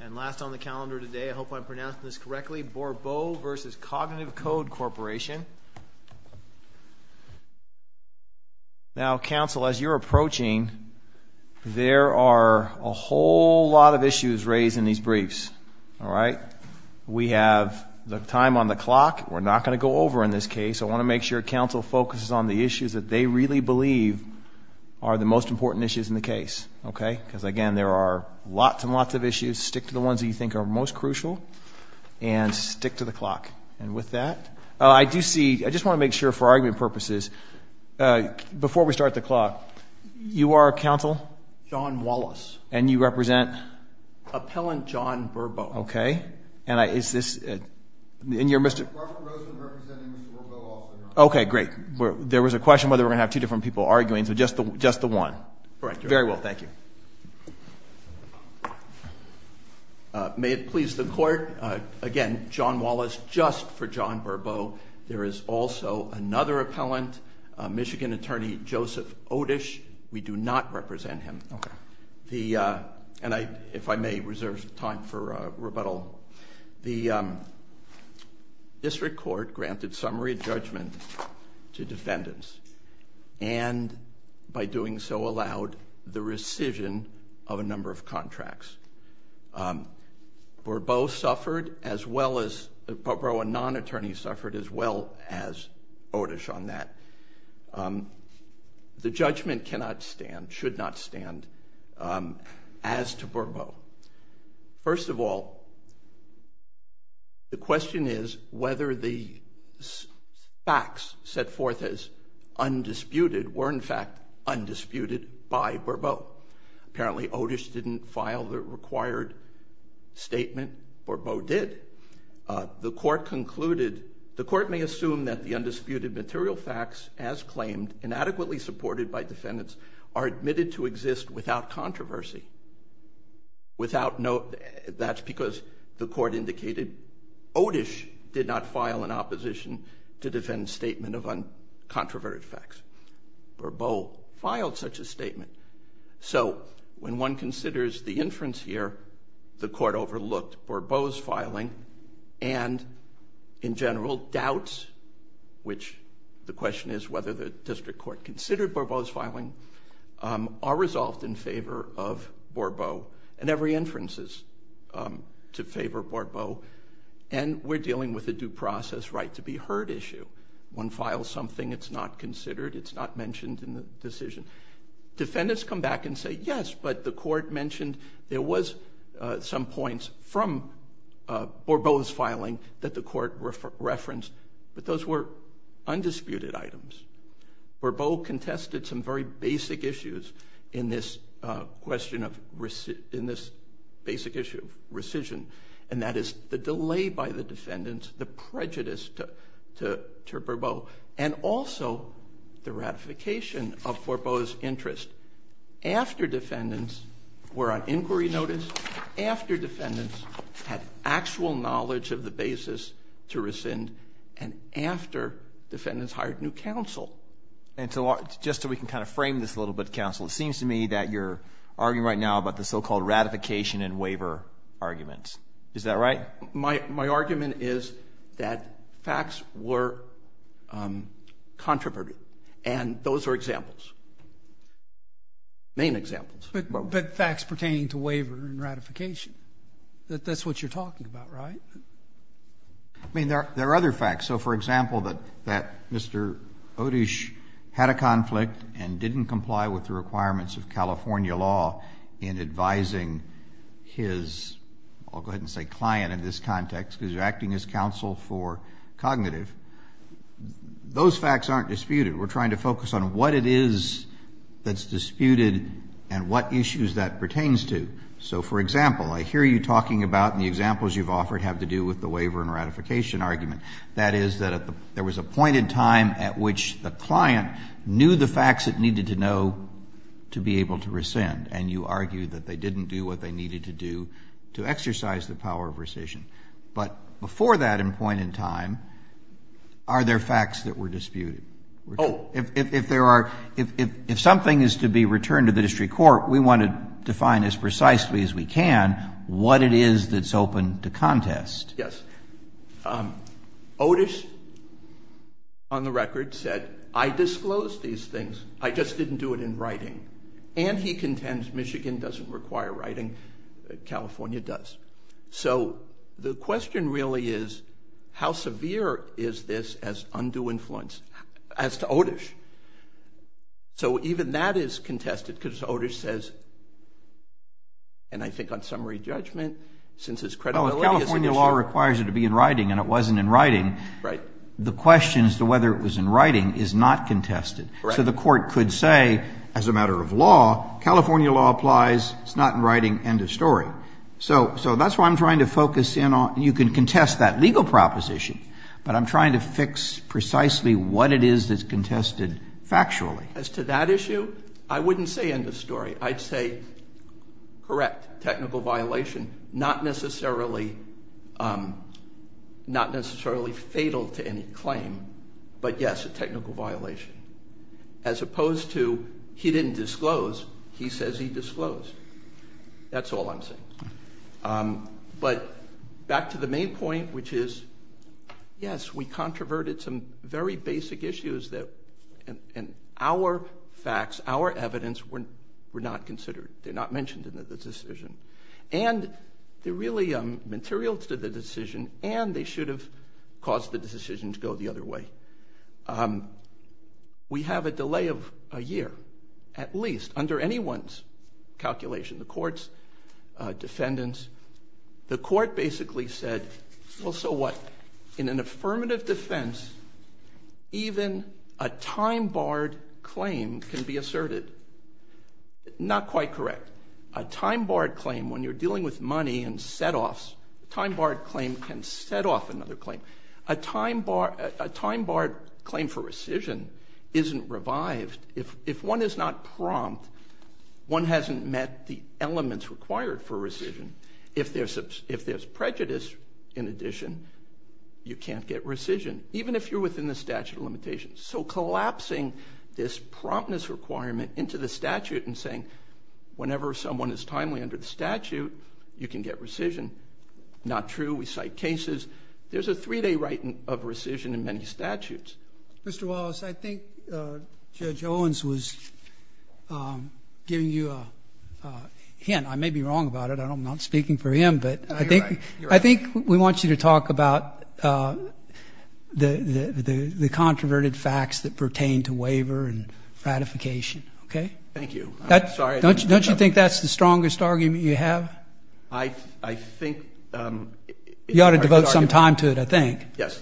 And last on the calendar today, I hope I'm pronouncing this correctly, Bourbeau v. Cognitive Code Corp. Now Council, as you're approaching, there are a whole lot of issues raised in these briefs. We have the time on the clock, we're not going to go over in this case, I want to make sure Council focuses on the issues that they really believe are the most important issues in the case. Okay? Because again, there are lots and lots of issues, stick to the ones that you think are most crucial, and stick to the clock. And with that, I do see, I just want to make sure for argument purposes, before we start the clock, you are Council? John Wallace. And you represent? Appellant John Bourbeau. Okay. And is this, and you're Mr. Robert Rosen representing Mr. Bourbeau also, Your Honor. Okay, great. There was a question whether we're going to have two different people arguing, so just the one. Correct, Your Honor. Very well, thank you. May it please the Court, again, John Wallace, just for John Bourbeau. There is also another appellant, Michigan Attorney Joseph Otish, we do not represent him. Okay. The, and I, if I may reserve time for rebuttal, the District Court granted summary judgment to defendants, and by doing so allowed the rescission of a number of contracts. Bourbeau suffered as well as, Bourbeau, a non-attorney suffered as well as Otish on that. The judgment cannot stand, should not stand, as to Bourbeau. First of all, the question is whether the facts set forth as undisputed were in fact undisputed by Bourbeau. Apparently Otish didn't file the required statement, Bourbeau did. The Court concluded, the Court may assume that the undisputed material facts as claimed and inadequately supported by defendants are admitted to exist without controversy. Without no, that's because the Court indicated Otish did not file an opposition to defend statement of uncontroverted facts. Bourbeau filed such a statement. So when one considers the inference here, the Court overlooked Bourbeau's filing and, in general, doubts, which the question is whether the District Court considered Bourbeau's filing, are resolved in favor of Bourbeau, and every inference is to favor Bourbeau, and we're dealing with a due process right to be heard issue. One files something, it's not considered, it's not mentioned in the decision. Defendants come back and say, yes, but the Court mentioned there was some points from that the Court referenced, but those were undisputed items. Bourbeau contested some very basic issues in this question of, in this basic issue of rescission, and that is the delay by the defendants, the prejudice to Bourbeau, and also the ratification of Bourbeau's interest. After defendants were on inquiry notice, after defendants had actual knowledge of the basis to rescind, and after defendants hired new counsel. And so, just so we can kind of frame this a little bit, counsel, it seems to me that you're arguing right now about the so-called ratification and waiver arguments. Is that right? My argument is that facts were controversial, and those are examples, main examples. But facts pertaining to waiver and ratification, that's what you're talking about, right? I mean, there are other facts. So, for example, that Mr. Odish had a conflict and didn't comply with the requirements of California law in advising his, I'll go ahead and say client in this context, because you're acting as counsel for cognitive. Those facts aren't disputed. We're trying to focus on what it is that's disputed and what issues that pertains to. So, for example, I hear you talking about, and the examples you've offered have to do with the waiver and ratification argument. That is, that there was a point in time at which the client knew the facts it needed to know to be able to rescind, and you argue that they didn't do what they needed to do to exercise the power of rescission. But before that point in time, are there facts that were disputed? Oh, if there are, if something is to be returned to the district court, we want to define as precisely as we can what it is that's open to contest. Yes. Odish, on the record, said, I disclosed these things, I just didn't do it in writing. And he contends Michigan doesn't require writing, California does. So the question really is, how severe is this as undue influence as to Odish? So even that is contested because Odish says, and I think on summary judgment, since his credibility is an issue. Well, if California law requires it to be in writing and it wasn't in writing, the question as to whether it was in writing is not contested. So the court could say, as a matter of law, California law applies, it's not in writing, end of story. So that's why I'm trying to focus in on, you can contest that legal proposition, but I'm trying to fix precisely what it is that's contested factually. As to that issue, I wouldn't say end of story. I'd say, correct, technical violation, not necessarily fatal to any claim. But yes, a technical violation. As opposed to, he didn't disclose, he says he disclosed. That's all I'm saying. But back to the main point, which is, yes, we controverted some very basic issues that in our facts, our evidence, were not considered. They're not mentioned in the decision. And they're really material to the decision, and they should have caused the decision to go the other way. We have a delay of a year, at least, under anyone's calculation, the court's defendants. The court basically said, well, so what? In an affirmative defense, even a time-barred claim can be asserted. Not quite correct. A time-barred claim, when you're dealing with money and setoffs, a time-barred claim can set off another claim. A time-barred claim for rescission isn't revived. If one is not prompt, one hasn't met the elements required for rescission. If there's prejudice, in addition, you can't get rescission, even if you're within the statute of limitations. So collapsing this promptness requirement into the statute and saying, whenever someone is timely under the statute, you can get rescission, not true. We cite cases. There's a three-day right of rescission in many statutes. Mr. Wallace, I think Judge Owens was giving you a hint. I may be wrong about it. I'm not speaking for him, but I think we want you to talk about the controverted facts that pertain to waiver and ratification. Okay? Thank you. I'm sorry. Don't you think that's the strongest argument you have? I think... You ought to devote some time to it, I think. Yes.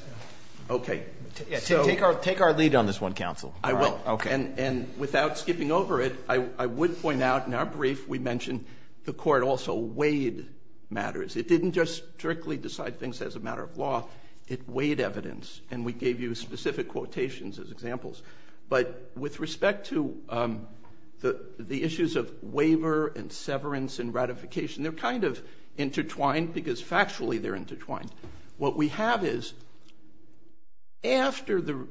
Okay. Take our lead on this one, counsel. I will. Okay. And without skipping over it, I would point out in our brief, we mentioned the court also weighed matters. It didn't just strictly decide things as a matter of law. It weighed evidence. And we gave you specific quotations as examples. But with respect to the issues of waiver and severance and ratification, they're kind of intertwined because factually they're intertwined. What we have is, after the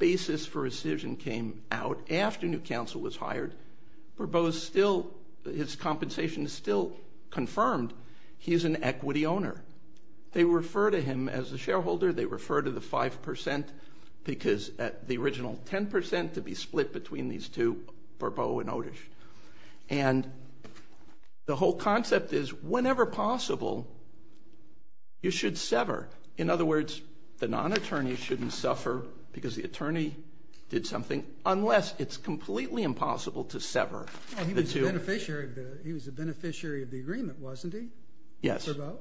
basis for rescission came out, after new counsel was hired, his compensation is still confirmed. He's an equity owner. They refer to him as the shareholder. They refer to the 5% because at the original 10% to be split between these two, Burbeau and Otish. And the whole concept is, whenever possible, you should sever. In other words, the non-attorney shouldn't suffer because the attorney did something, unless it's completely impossible to sever. He was a beneficiary of the agreement, wasn't he? Yes. Burbeau?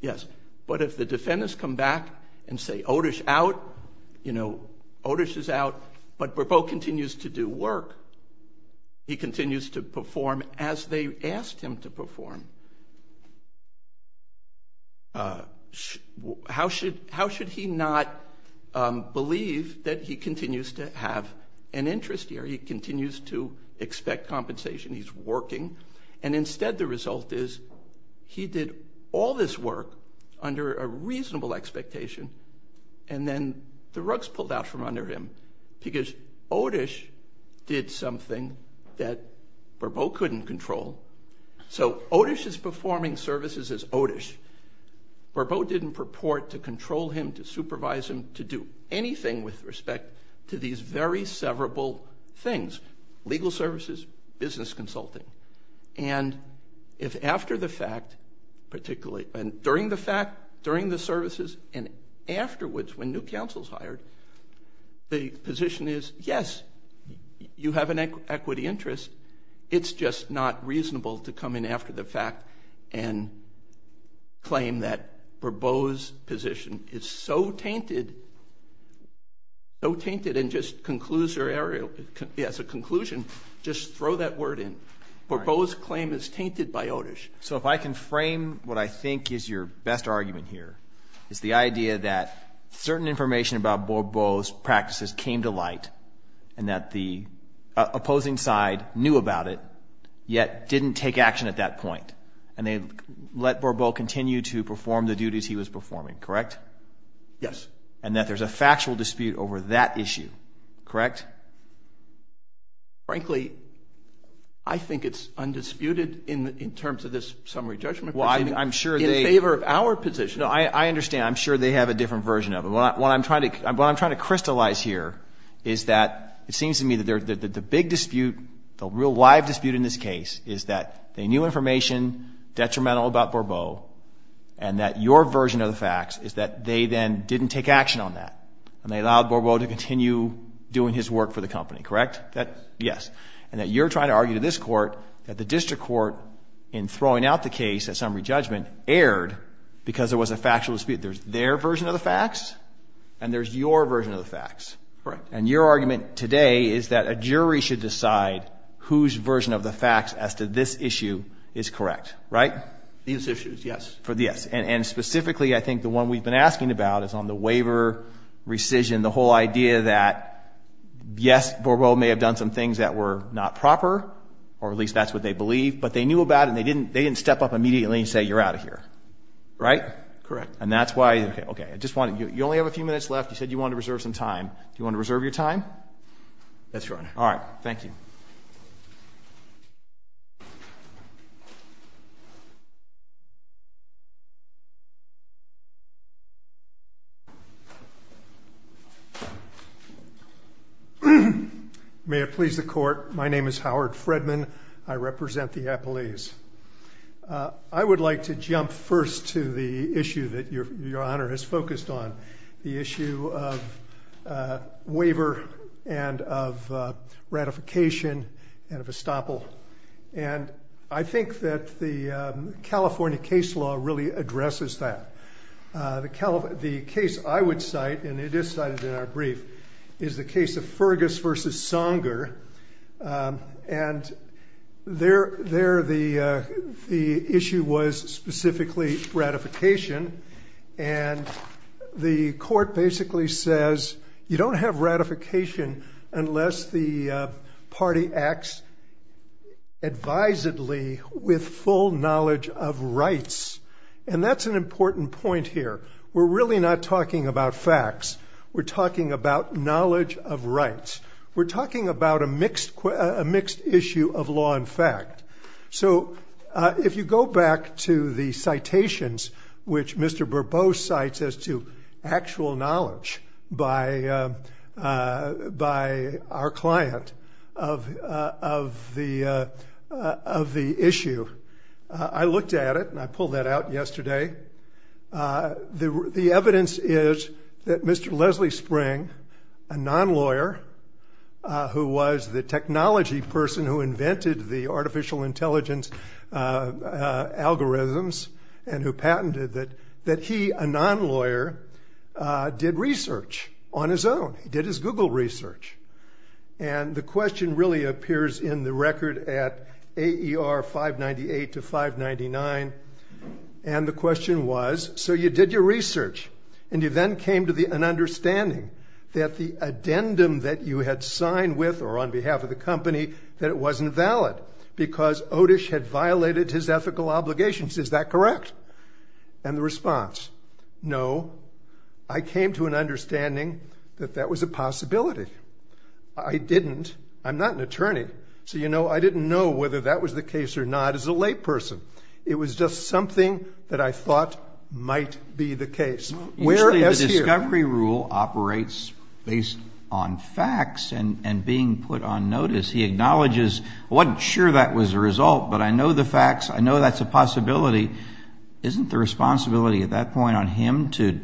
Yes. But if the defendants come back and say, Otish out, you know, Otish is out, but continues to perform as they asked him to perform, how should he not believe that he continues to have an interest here? He continues to expect compensation. He's working. And instead, the result is he did all this work under a reasonable expectation, and then the rug's pulled out from under him because Otish did something that Burbeau couldn't control. So Otish is performing services as Otish. Burbeau didn't purport to control him, to supervise him, to do anything with respect to these very severable things, legal services, business consulting. And if after the fact, particularly during the fact, during the services and afterwards, when new counsel's hired, the position is, yes, you have an equity interest. It's just not reasonable to come in after the fact and claim that Burbeau's position is so tainted, so tainted, and just concludes their area as a conclusion. Just throw that word in. Burbeau's claim is tainted by Otish. So if I can frame what I think is your best argument here, it's the idea that certain information about Burbeau's practices came to light and that the opposing side knew about it, yet didn't take action at that point. And they let Burbeau continue to perform the duties he was performing, correct? Yes. And that there's a factual dispute over that issue, correct? Frankly, I think it's undisputed in terms of this summary judgment. Well, I'm sure they... In favor of our position. No, I understand. I'm sure they have a different version of it. What I'm trying to crystallize here is that it seems to me that the big dispute, the real live dispute in this case, is that they knew information detrimental about Burbeau, and that your version of the facts is that they then didn't take action on that, and they allowed Burbeau to continue doing his work for the company, correct? Yes. Yes. And that you're trying to argue to this court that the district court, in throwing out the case at summary judgment, erred because there was a factual dispute. There's their version of the facts, and there's your version of the facts. Correct. And your argument today is that a jury should decide whose version of the facts as to this issue is correct, right? These issues, yes. For the yes. And specifically, I think the one we've been asking about is on the waiver rescission, the whole idea that yes, Burbeau may have done some things that were not proper, or at least that's what they believe, but they knew about it, and they didn't step up immediately and say, you're out of here, right? Correct. And that's why... Okay. Okay. I just want to... You only have a few minutes left. You said you wanted to reserve some time. Do you want to reserve your time? Yes, Your Honor. All right. Thank you. May it please the court. My name is Howard Fredman. I represent the appellees. I would like to jump first to the issue that Your Honor has focused on, the issue of waiver and of ratification and of estoppel. And I think that the California case law really addresses that. The case I would cite, and it is cited in our brief, is the case of Fergus versus Songer. And there the issue was specifically ratification, and the court basically says, you don't have ratification unless the party acts advisedly with full knowledge of rights. And that's an important point here. We're really not talking about facts. We're talking about knowledge of rights. We're talking about a mixed issue of law and fact. So if you go back to the citations which Mr. Bourbeau cites as to actual knowledge by our client of the issue, I looked at it and I pulled that out yesterday. The evidence is that Mr. Leslie Spring, a non-lawyer who was the technology person who invented the artificial intelligence algorithms and who patented it, that he, a non-lawyer, did research on his own. He did his Google research. And the question really appears in the record at AER 598 to 599. And the question was, so you did your research and you then came to an understanding that the addendum that you had signed with or on behalf of the company that it wasn't valid because Otish had violated his ethical obligations. Is that correct? And the response, no. I came to an understanding that that was a possibility. I didn't. I'm not an attorney. So, you know, I didn't know whether that was the case or not as a layperson. It was just something that I thought might be the case. Usually the discovery rule operates based on facts and being put on notice. He acknowledges, I wasn't sure that was the result, but I know the facts. I know that's a possibility. Isn't the responsibility at that point on him to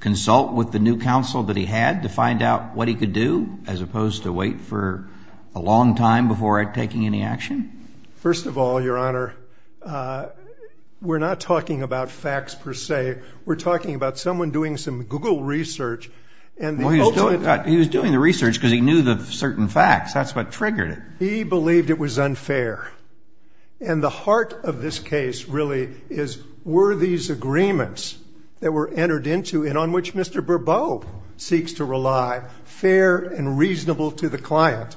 consult with the new counsel that he had to find out what he could do as opposed to wait for a long time before taking any action? First of all, Your Honor, we're not talking about facts per se. We're talking about someone doing some Google research. And he was doing the research because he knew the certain facts. That's what triggered it. He believed it was unfair. And the heart of this case really is were these agreements that were entered into and on which Mr. Bourbeau seeks to rely fair and reasonable to the client.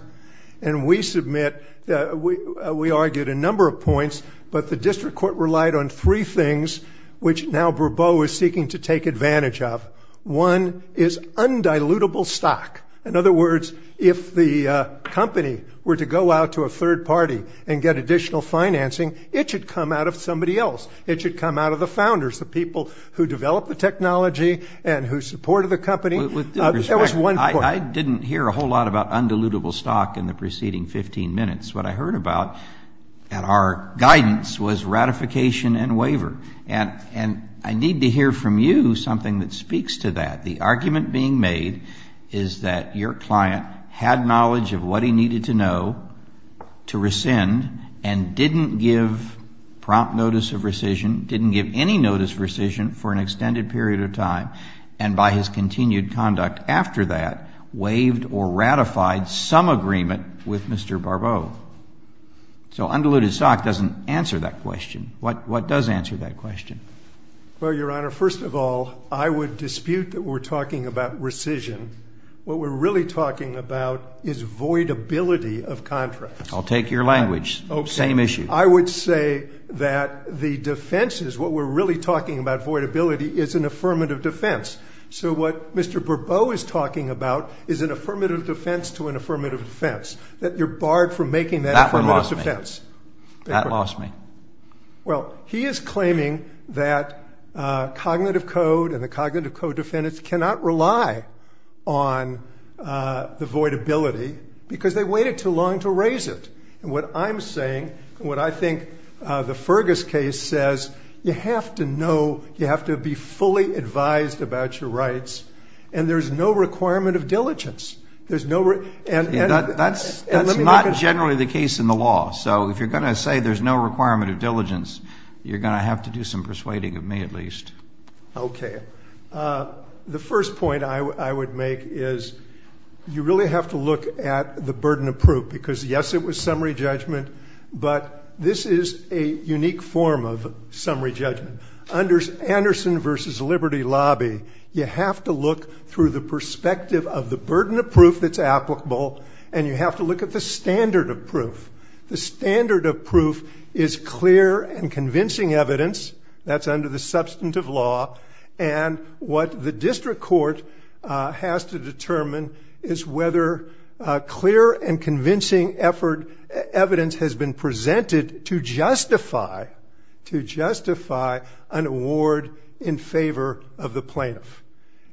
And we submit, we argued a number of points, but the district court relied on three things which now Bourbeau is seeking to take advantage of. One is undilutable stock. In other words, if the company were to go out to a third party and get additional financing, it should come out of somebody else. It should come out of the founders, the people who developed the technology and who supported the company. That was one point. I didn't hear a whole lot about undilutable stock in the preceding 15 minutes. What I heard about at our guidance was ratification and waiver. And I need to hear from you something that speaks to that. The argument being made is that your client had knowledge of what he needed to know to rescind and didn't give prompt notice of rescission, didn't give any notice of rescission for an extended period of time, and by his continued conduct after that, waived or ratified some agreement with Mr. Bourbeau. So undiluted stock doesn't answer that question. What does answer that question? Well, Your Honor, first of all, I would dispute that we're talking about rescission. What we're really talking about is voidability of contracts. I'll take your language. Same issue. I would say that the defenses, what we're really talking about voidability is an affirmative defense. So what Mr. Bourbeau is talking about is an affirmative defense to an affirmative defense. That you're barred from making that affirmative defense. That lost me. Well, he is claiming that Cognitive Code and the Cognitive Code defendants cannot rely on the voidability because they waited too long to raise it. And what I'm saying, and what I think the Fergus case says, you have to know, you have to be fully advised about your rights. And there's no requirement of diligence. There's no... That's not generally the case in the law. So if you're going to say there's no requirement of diligence, you're going to have to do some persuading of me at least. Okay. The first point I would make is you really have to look at the burden of proof because yes, it was summary judgment, but this is a unique form of summary judgment. Under Anderson v. Liberty Lobby, you have to look through the perspective of the burden of proof that's applicable, and you have to look at the standard of proof. The standard of proof is clear and convincing evidence. That's under the substantive law. And what the district court has to determine is whether clear and convincing effort, evidence has been presented to justify an award in favor of the plaintiff.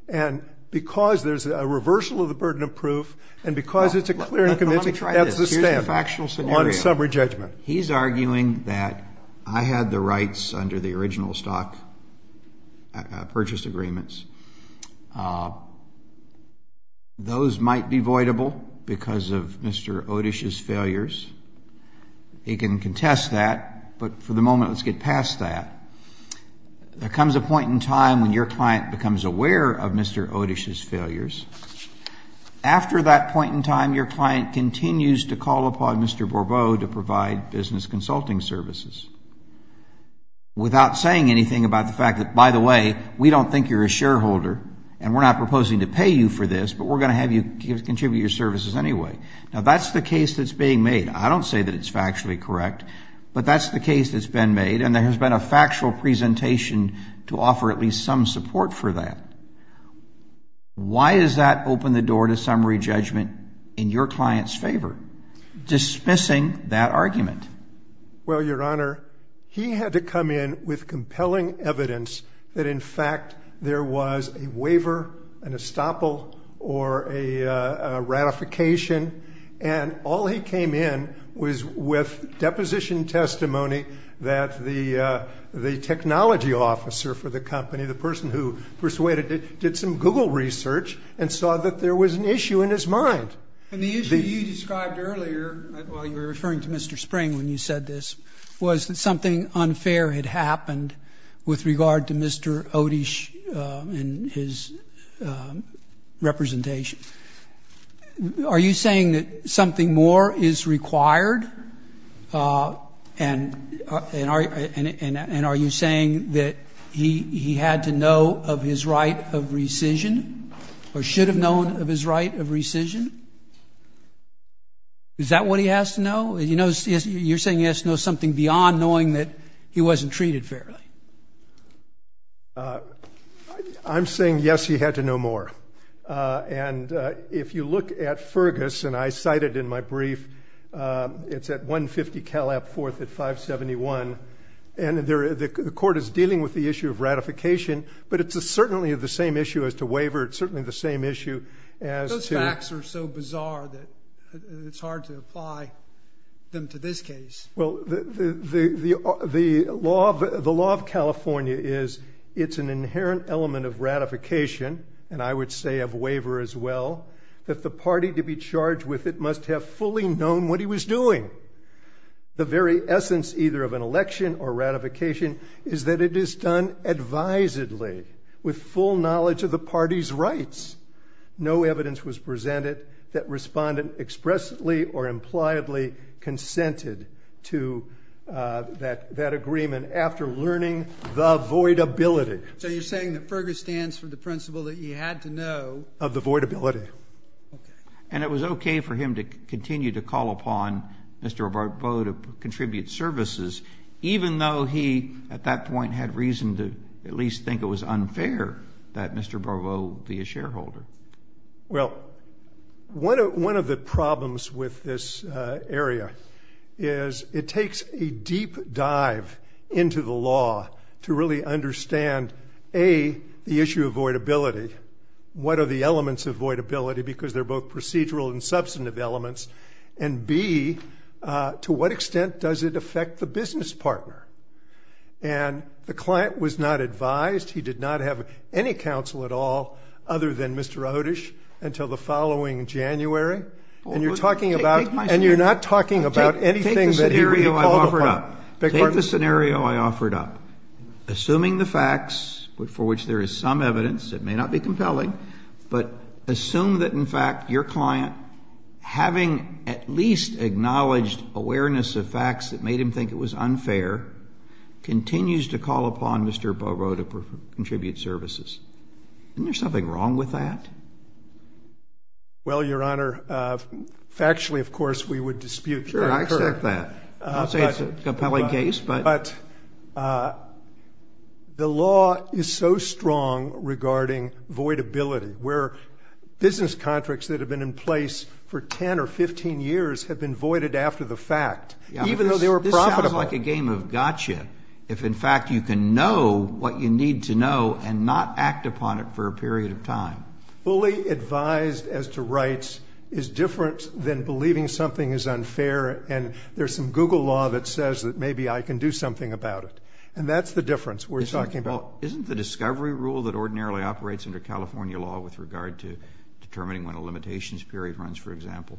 And because there's a reversal of the burden of proof, and because it's a clear and convincing, that's the standard on summary judgment. He's arguing that I had the rights under the original stock purchase agreements. Those might be voidable because of Mr. Odish's failures. He can contest that, but for the moment, let's get past that. There comes a point in time when your client becomes aware of Mr. Odish's failures. After that point in time, your client continues to call upon Mr. Bourbeau to provide business consulting services without saying anything about the fact that by the way, we don't think you're a shareholder, and we're not proposing to pay you for this, but we're going to have you contribute your services anyway. Now, that's the case that's being made. I don't say that it's factually correct, but that's the case that's been made, and there has been a factual presentation to offer at least some support for that. Why does that open the door to summary judgment in your client's favor, dismissing that argument? Well, Your Honor, he had to come in with compelling evidence that in fact, there was a waiver, an estoppel, or a ratification, and all he came in was with deposition testimony that the technology officer for the company, the person who persuaded it, did some Google research and saw that there was an issue in his mind. And the issue you described earlier, while you were referring to Mr. Spring when you said this, was that something unfair had happened with regard to Mr. Odish and his representation. Are you saying that something more is required, and are you saying that he had to know of his right of rescission, or should have known of his right of rescission? Is that what he has to know? You're saying he has to know something beyond knowing that he wasn't treated fairly. I'm saying, yes, he had to know more, and if you look at Fergus, and I cite it in my brief, it's at 150 Cal App 4th at 571, and the court is dealing with the issue of ratification, but it's certainly the same issue as to waiver, it's certainly the same issue as to... Those facts are so bizarre that it's hard to apply them to this case. Well, the law of California is, it's an inherent element of ratification, and I would say of waiver as well, that the party to be charged with it must have fully known what he was doing. The very essence either of an election or ratification is that it is done advisedly with full knowledge of the party's rights. No evidence was presented that respondent expressly or impliedly consented to that agreement after learning the voidability. So you're saying that Fergus stands for the principle that he had to know... Of the voidability. And it was okay for him to continue to call upon Mr. Barbeau to contribute services, even though he, at that point, had reason to at least think it was unfair that Mr. Barbeau be a shareholder. Well, one of the problems with this area is it takes a deep dive into the law to really understand, A, the issue of voidability, what are the elements of voidability, because they're both procedural and substantive elements, and B, to what extent does it affect the business partner? And the client was not advised. He did not have any counsel at all other than Mr. Otish until the following January. And you're talking about, and you're not talking about anything that he called upon. Take the scenario I offered up. Assuming the facts, for which there is some evidence, it may not be compelling, but assume that, in fact, your client, having at least acknowledged awareness of facts that made him think it was unfair, continues to call upon Mr. Barbeau to contribute services. Isn't there something wrong with that? Well, Your Honor, factually, of course, we would dispute that. Sure, I accept that. I don't say it's a compelling case, but... The law is so strong regarding voidability, where business contracts that have been in place for 10 or 15 years have been voided after the fact, even though they were profitable. This sounds like a game of gotcha, if, in fact, you can know what you need to know and not act upon it for a period of time. Fully advised as to rights is different than believing something is unfair, and there's some Google law that says that maybe I can do something about it. And that's the difference we're talking about. Isn't the discovery rule that ordinarily operates under California law with regard to determining when a limitations period runs, for example,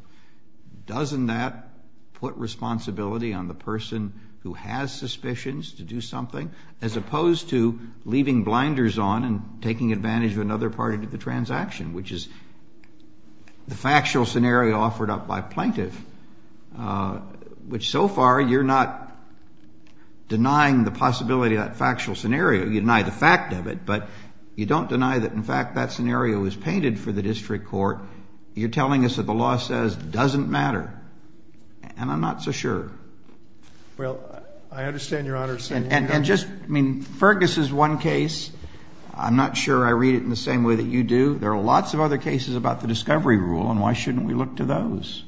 doesn't that put responsibility on the person who has suspicions to do something, as opposed to leaving blinders on and taking advantage of another party to the transaction, which is the factual scenario offered up by a plaintiff, which so far you're not denying the possibility of that factual scenario. You deny the fact of it, but you don't deny that, in fact, that scenario was painted for the district court. You're telling us that the law says it doesn't matter, and I'm not so sure. Well, I understand Your Honor's saying... And just, I mean, Fergus's one case, I'm not sure I read it in the same way that you do. There are lots of other cases about the discovery rule, and why shouldn't we look to those?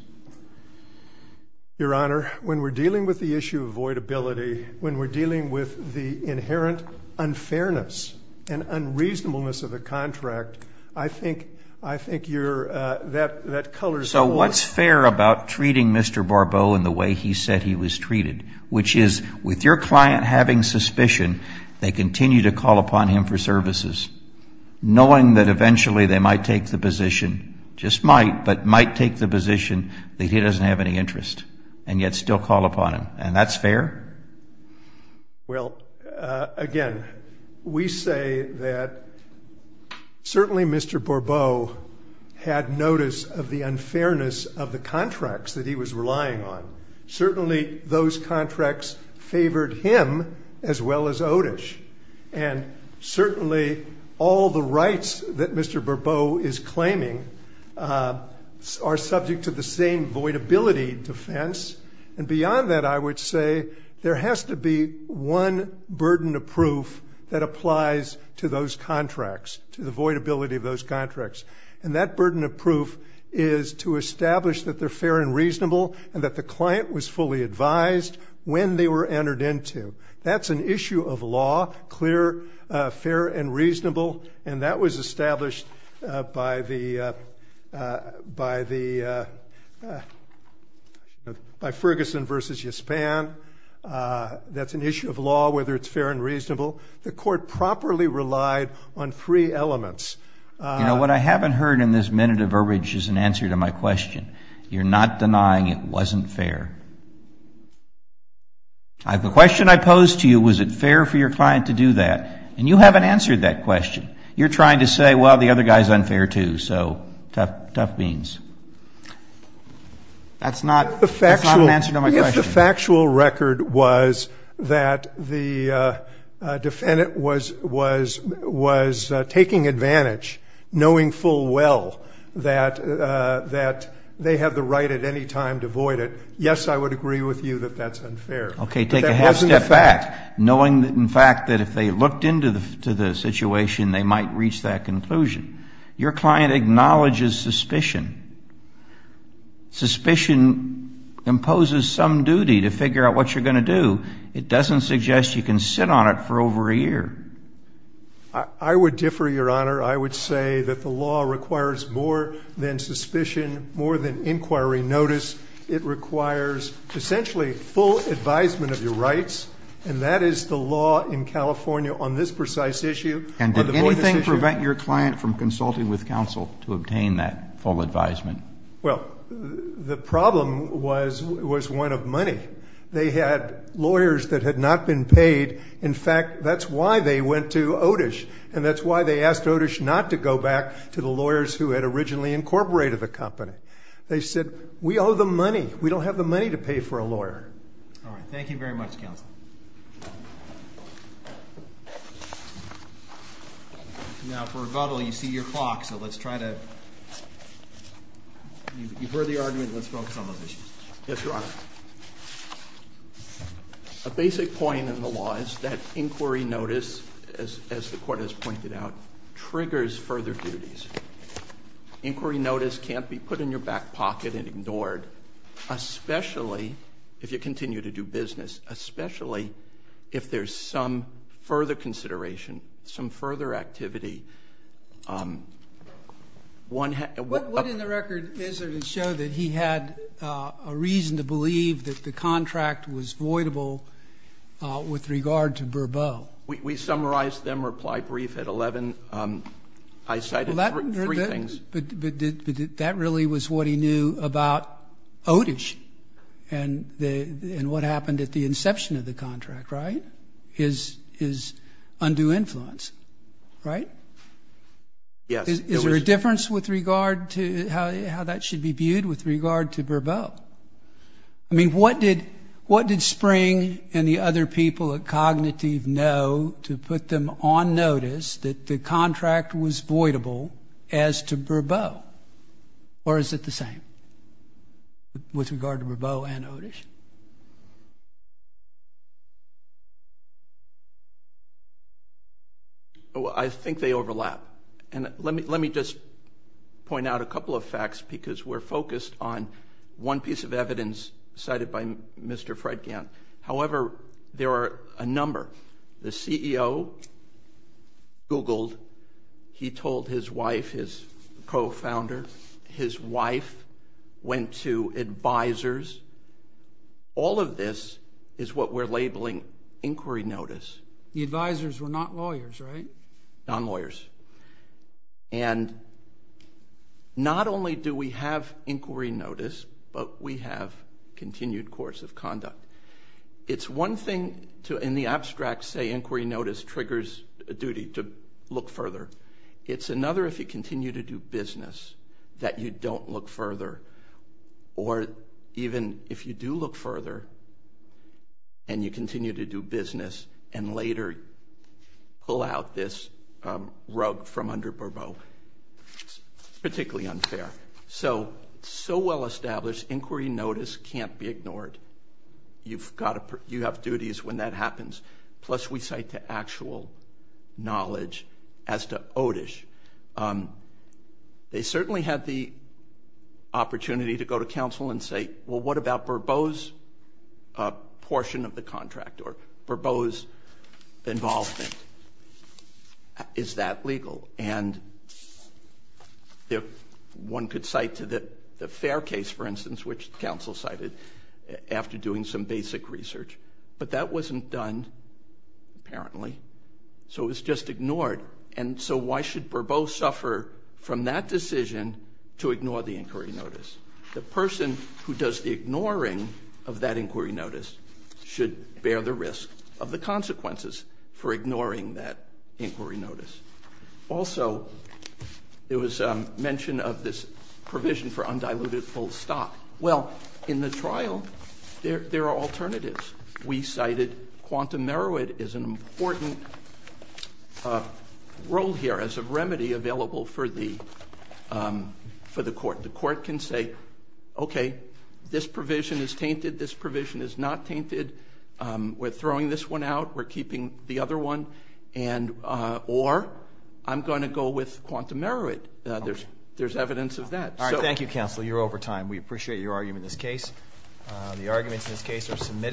Your Honor, when we're dealing with the issue of voidability, when we're dealing with the inherent unfairness and unreasonableness of a contract, I think you're, that colors... So what's fair about treating Mr. Barbeau in the way he said he was treated, which is with your client having suspicion, they continue to call upon him for services, knowing that eventually they might take the position, just might, but might take the position that he doesn't have any interest, and yet still call upon him. And that's fair? Well, again, we say that certainly Mr. Barbeau had notice of the unfairness of the contracts that he was relying on. Certainly those contracts favored him as well as Otish. And certainly all the rights that Mr. Barbeau is claiming are subject to the same voidability defense. And beyond that, I would say there has to be one burden of proof that applies to those contracts, to the voidability of those contracts. And that burden of proof is to establish that they're fair and reasonable, and that the client was fully advised when they were entered into. That's an issue of law, clear, fair, and reasonable. And that was established by the, by Ferguson versus Yispan. That's an issue of law, whether it's fair and reasonable. The court properly relied on three elements. You know, what I haven't heard in this minute of urge is an answer to my question. You're not denying it wasn't fair. The question I posed to you, was it fair for your client to do that? And you haven't answered that question. You're trying to say, well, the other guy's unfair too. So, tough, tough beans. That's not, that's not an answer to my question. The factual record was that the defendant was, was, was taking advantage, knowing full well that, that they have the right at any time to void it. Yes, I would agree with you that that's unfair. Okay, take a half step back, knowing that, in fact, that if they looked into the, to the situation, they might reach that conclusion. Your client acknowledges suspicion. Suspicion imposes some duty to figure out what you're going to do. It doesn't suggest you can sit on it for over a year. I, I would differ, Your Honor. I would say that the law requires more than suspicion, more than inquiry notice. It requires, essentially, full advisement of your rights. And that is the law in California on this precise issue. And did anything prevent your client from consulting with counsel to obtain that full advisement? Well, the problem was, was one of money. They had lawyers that had not been paid. In fact, that's why they went to Otish. And that's why they asked Otish not to go back to the lawyers who had originally incorporated the company. They said, we owe them money. We don't have the money to pay for a lawyer. All right, thank you very much, counsel. Now, for rebuttal, you see your clock, so let's try to, you've heard the argument, let's focus on those issues. Yes, Your Honor. A basic point in the law is that inquiry notice, as, as the court has pointed out, triggers further duties. Inquiry notice can't be put in your back pocket and ignored, especially if you continue to do business. Especially if there's some further consideration, some further activity. One- What, what in the record is there to show that he had a reason to believe that the contract was voidable with regard to Berbeau? We, we summarized them, reply brief at 11, I cited- Briefings. But, but that really was what he knew about Otish and the, and what happened at the inception of the contract, right? His, his undue influence, right? Yes. Is there a difference with regard to how, how that should be viewed with regard to Berbeau? I mean, what did, what did Spring and the other people at Cognitive know to put them on notice that the contract was voidable as to Berbeau? Or is it the same with regard to Berbeau and Otish? Well, I think they overlap. And let me, let me just point out a couple of facts because we're focused on one piece of evidence cited by Mr. Fred Gant. However, there are a number. The CEO Googled, he told his wife, his co-founder, his wife went to advisors, all of this is what we're labeling inquiry notice. The advisors were not lawyers, right? Non-lawyers. And not only do we have inquiry notice, but we have continued course of conduct. It's one thing to, in the abstract, say inquiry notice triggers a duty to look further. It's another if you continue to do business that you don't look further. Or even if you do look further and you continue to do business and later pull out this rug from under Berbeau, it's particularly unfair. So, so well established inquiry notice can't be ignored. You've got to, you have duties when that happens. Plus, we cite the actual knowledge as to Otish. They certainly had the opportunity to go to counsel and say, well, what about Berbeau's portion of the contract or Berbeau's involvement? Is that legal? And one could cite to the fair case, for instance, which counsel cited after doing some basic research. But that wasn't done, apparently. So it was just ignored. And so why should Berbeau suffer from that decision to ignore the inquiry notice? The person who does the ignoring of that inquiry notice should bear the risk of the consequences for ignoring that inquiry notice. Also, there was mention of this provision for undiluted full stock. Well, in the trial, there are alternatives. We cited quantum merit as an important role here as a remedy available for the court. The court can say, okay, this provision is tainted, this provision is not tainted. We're throwing this one out, we're keeping the other one, or I'm going to go with quantum merit. There's evidence of that. All right, thank you counsel, you're over time. We appreciate your argument in this case. The arguments in this case are submitted.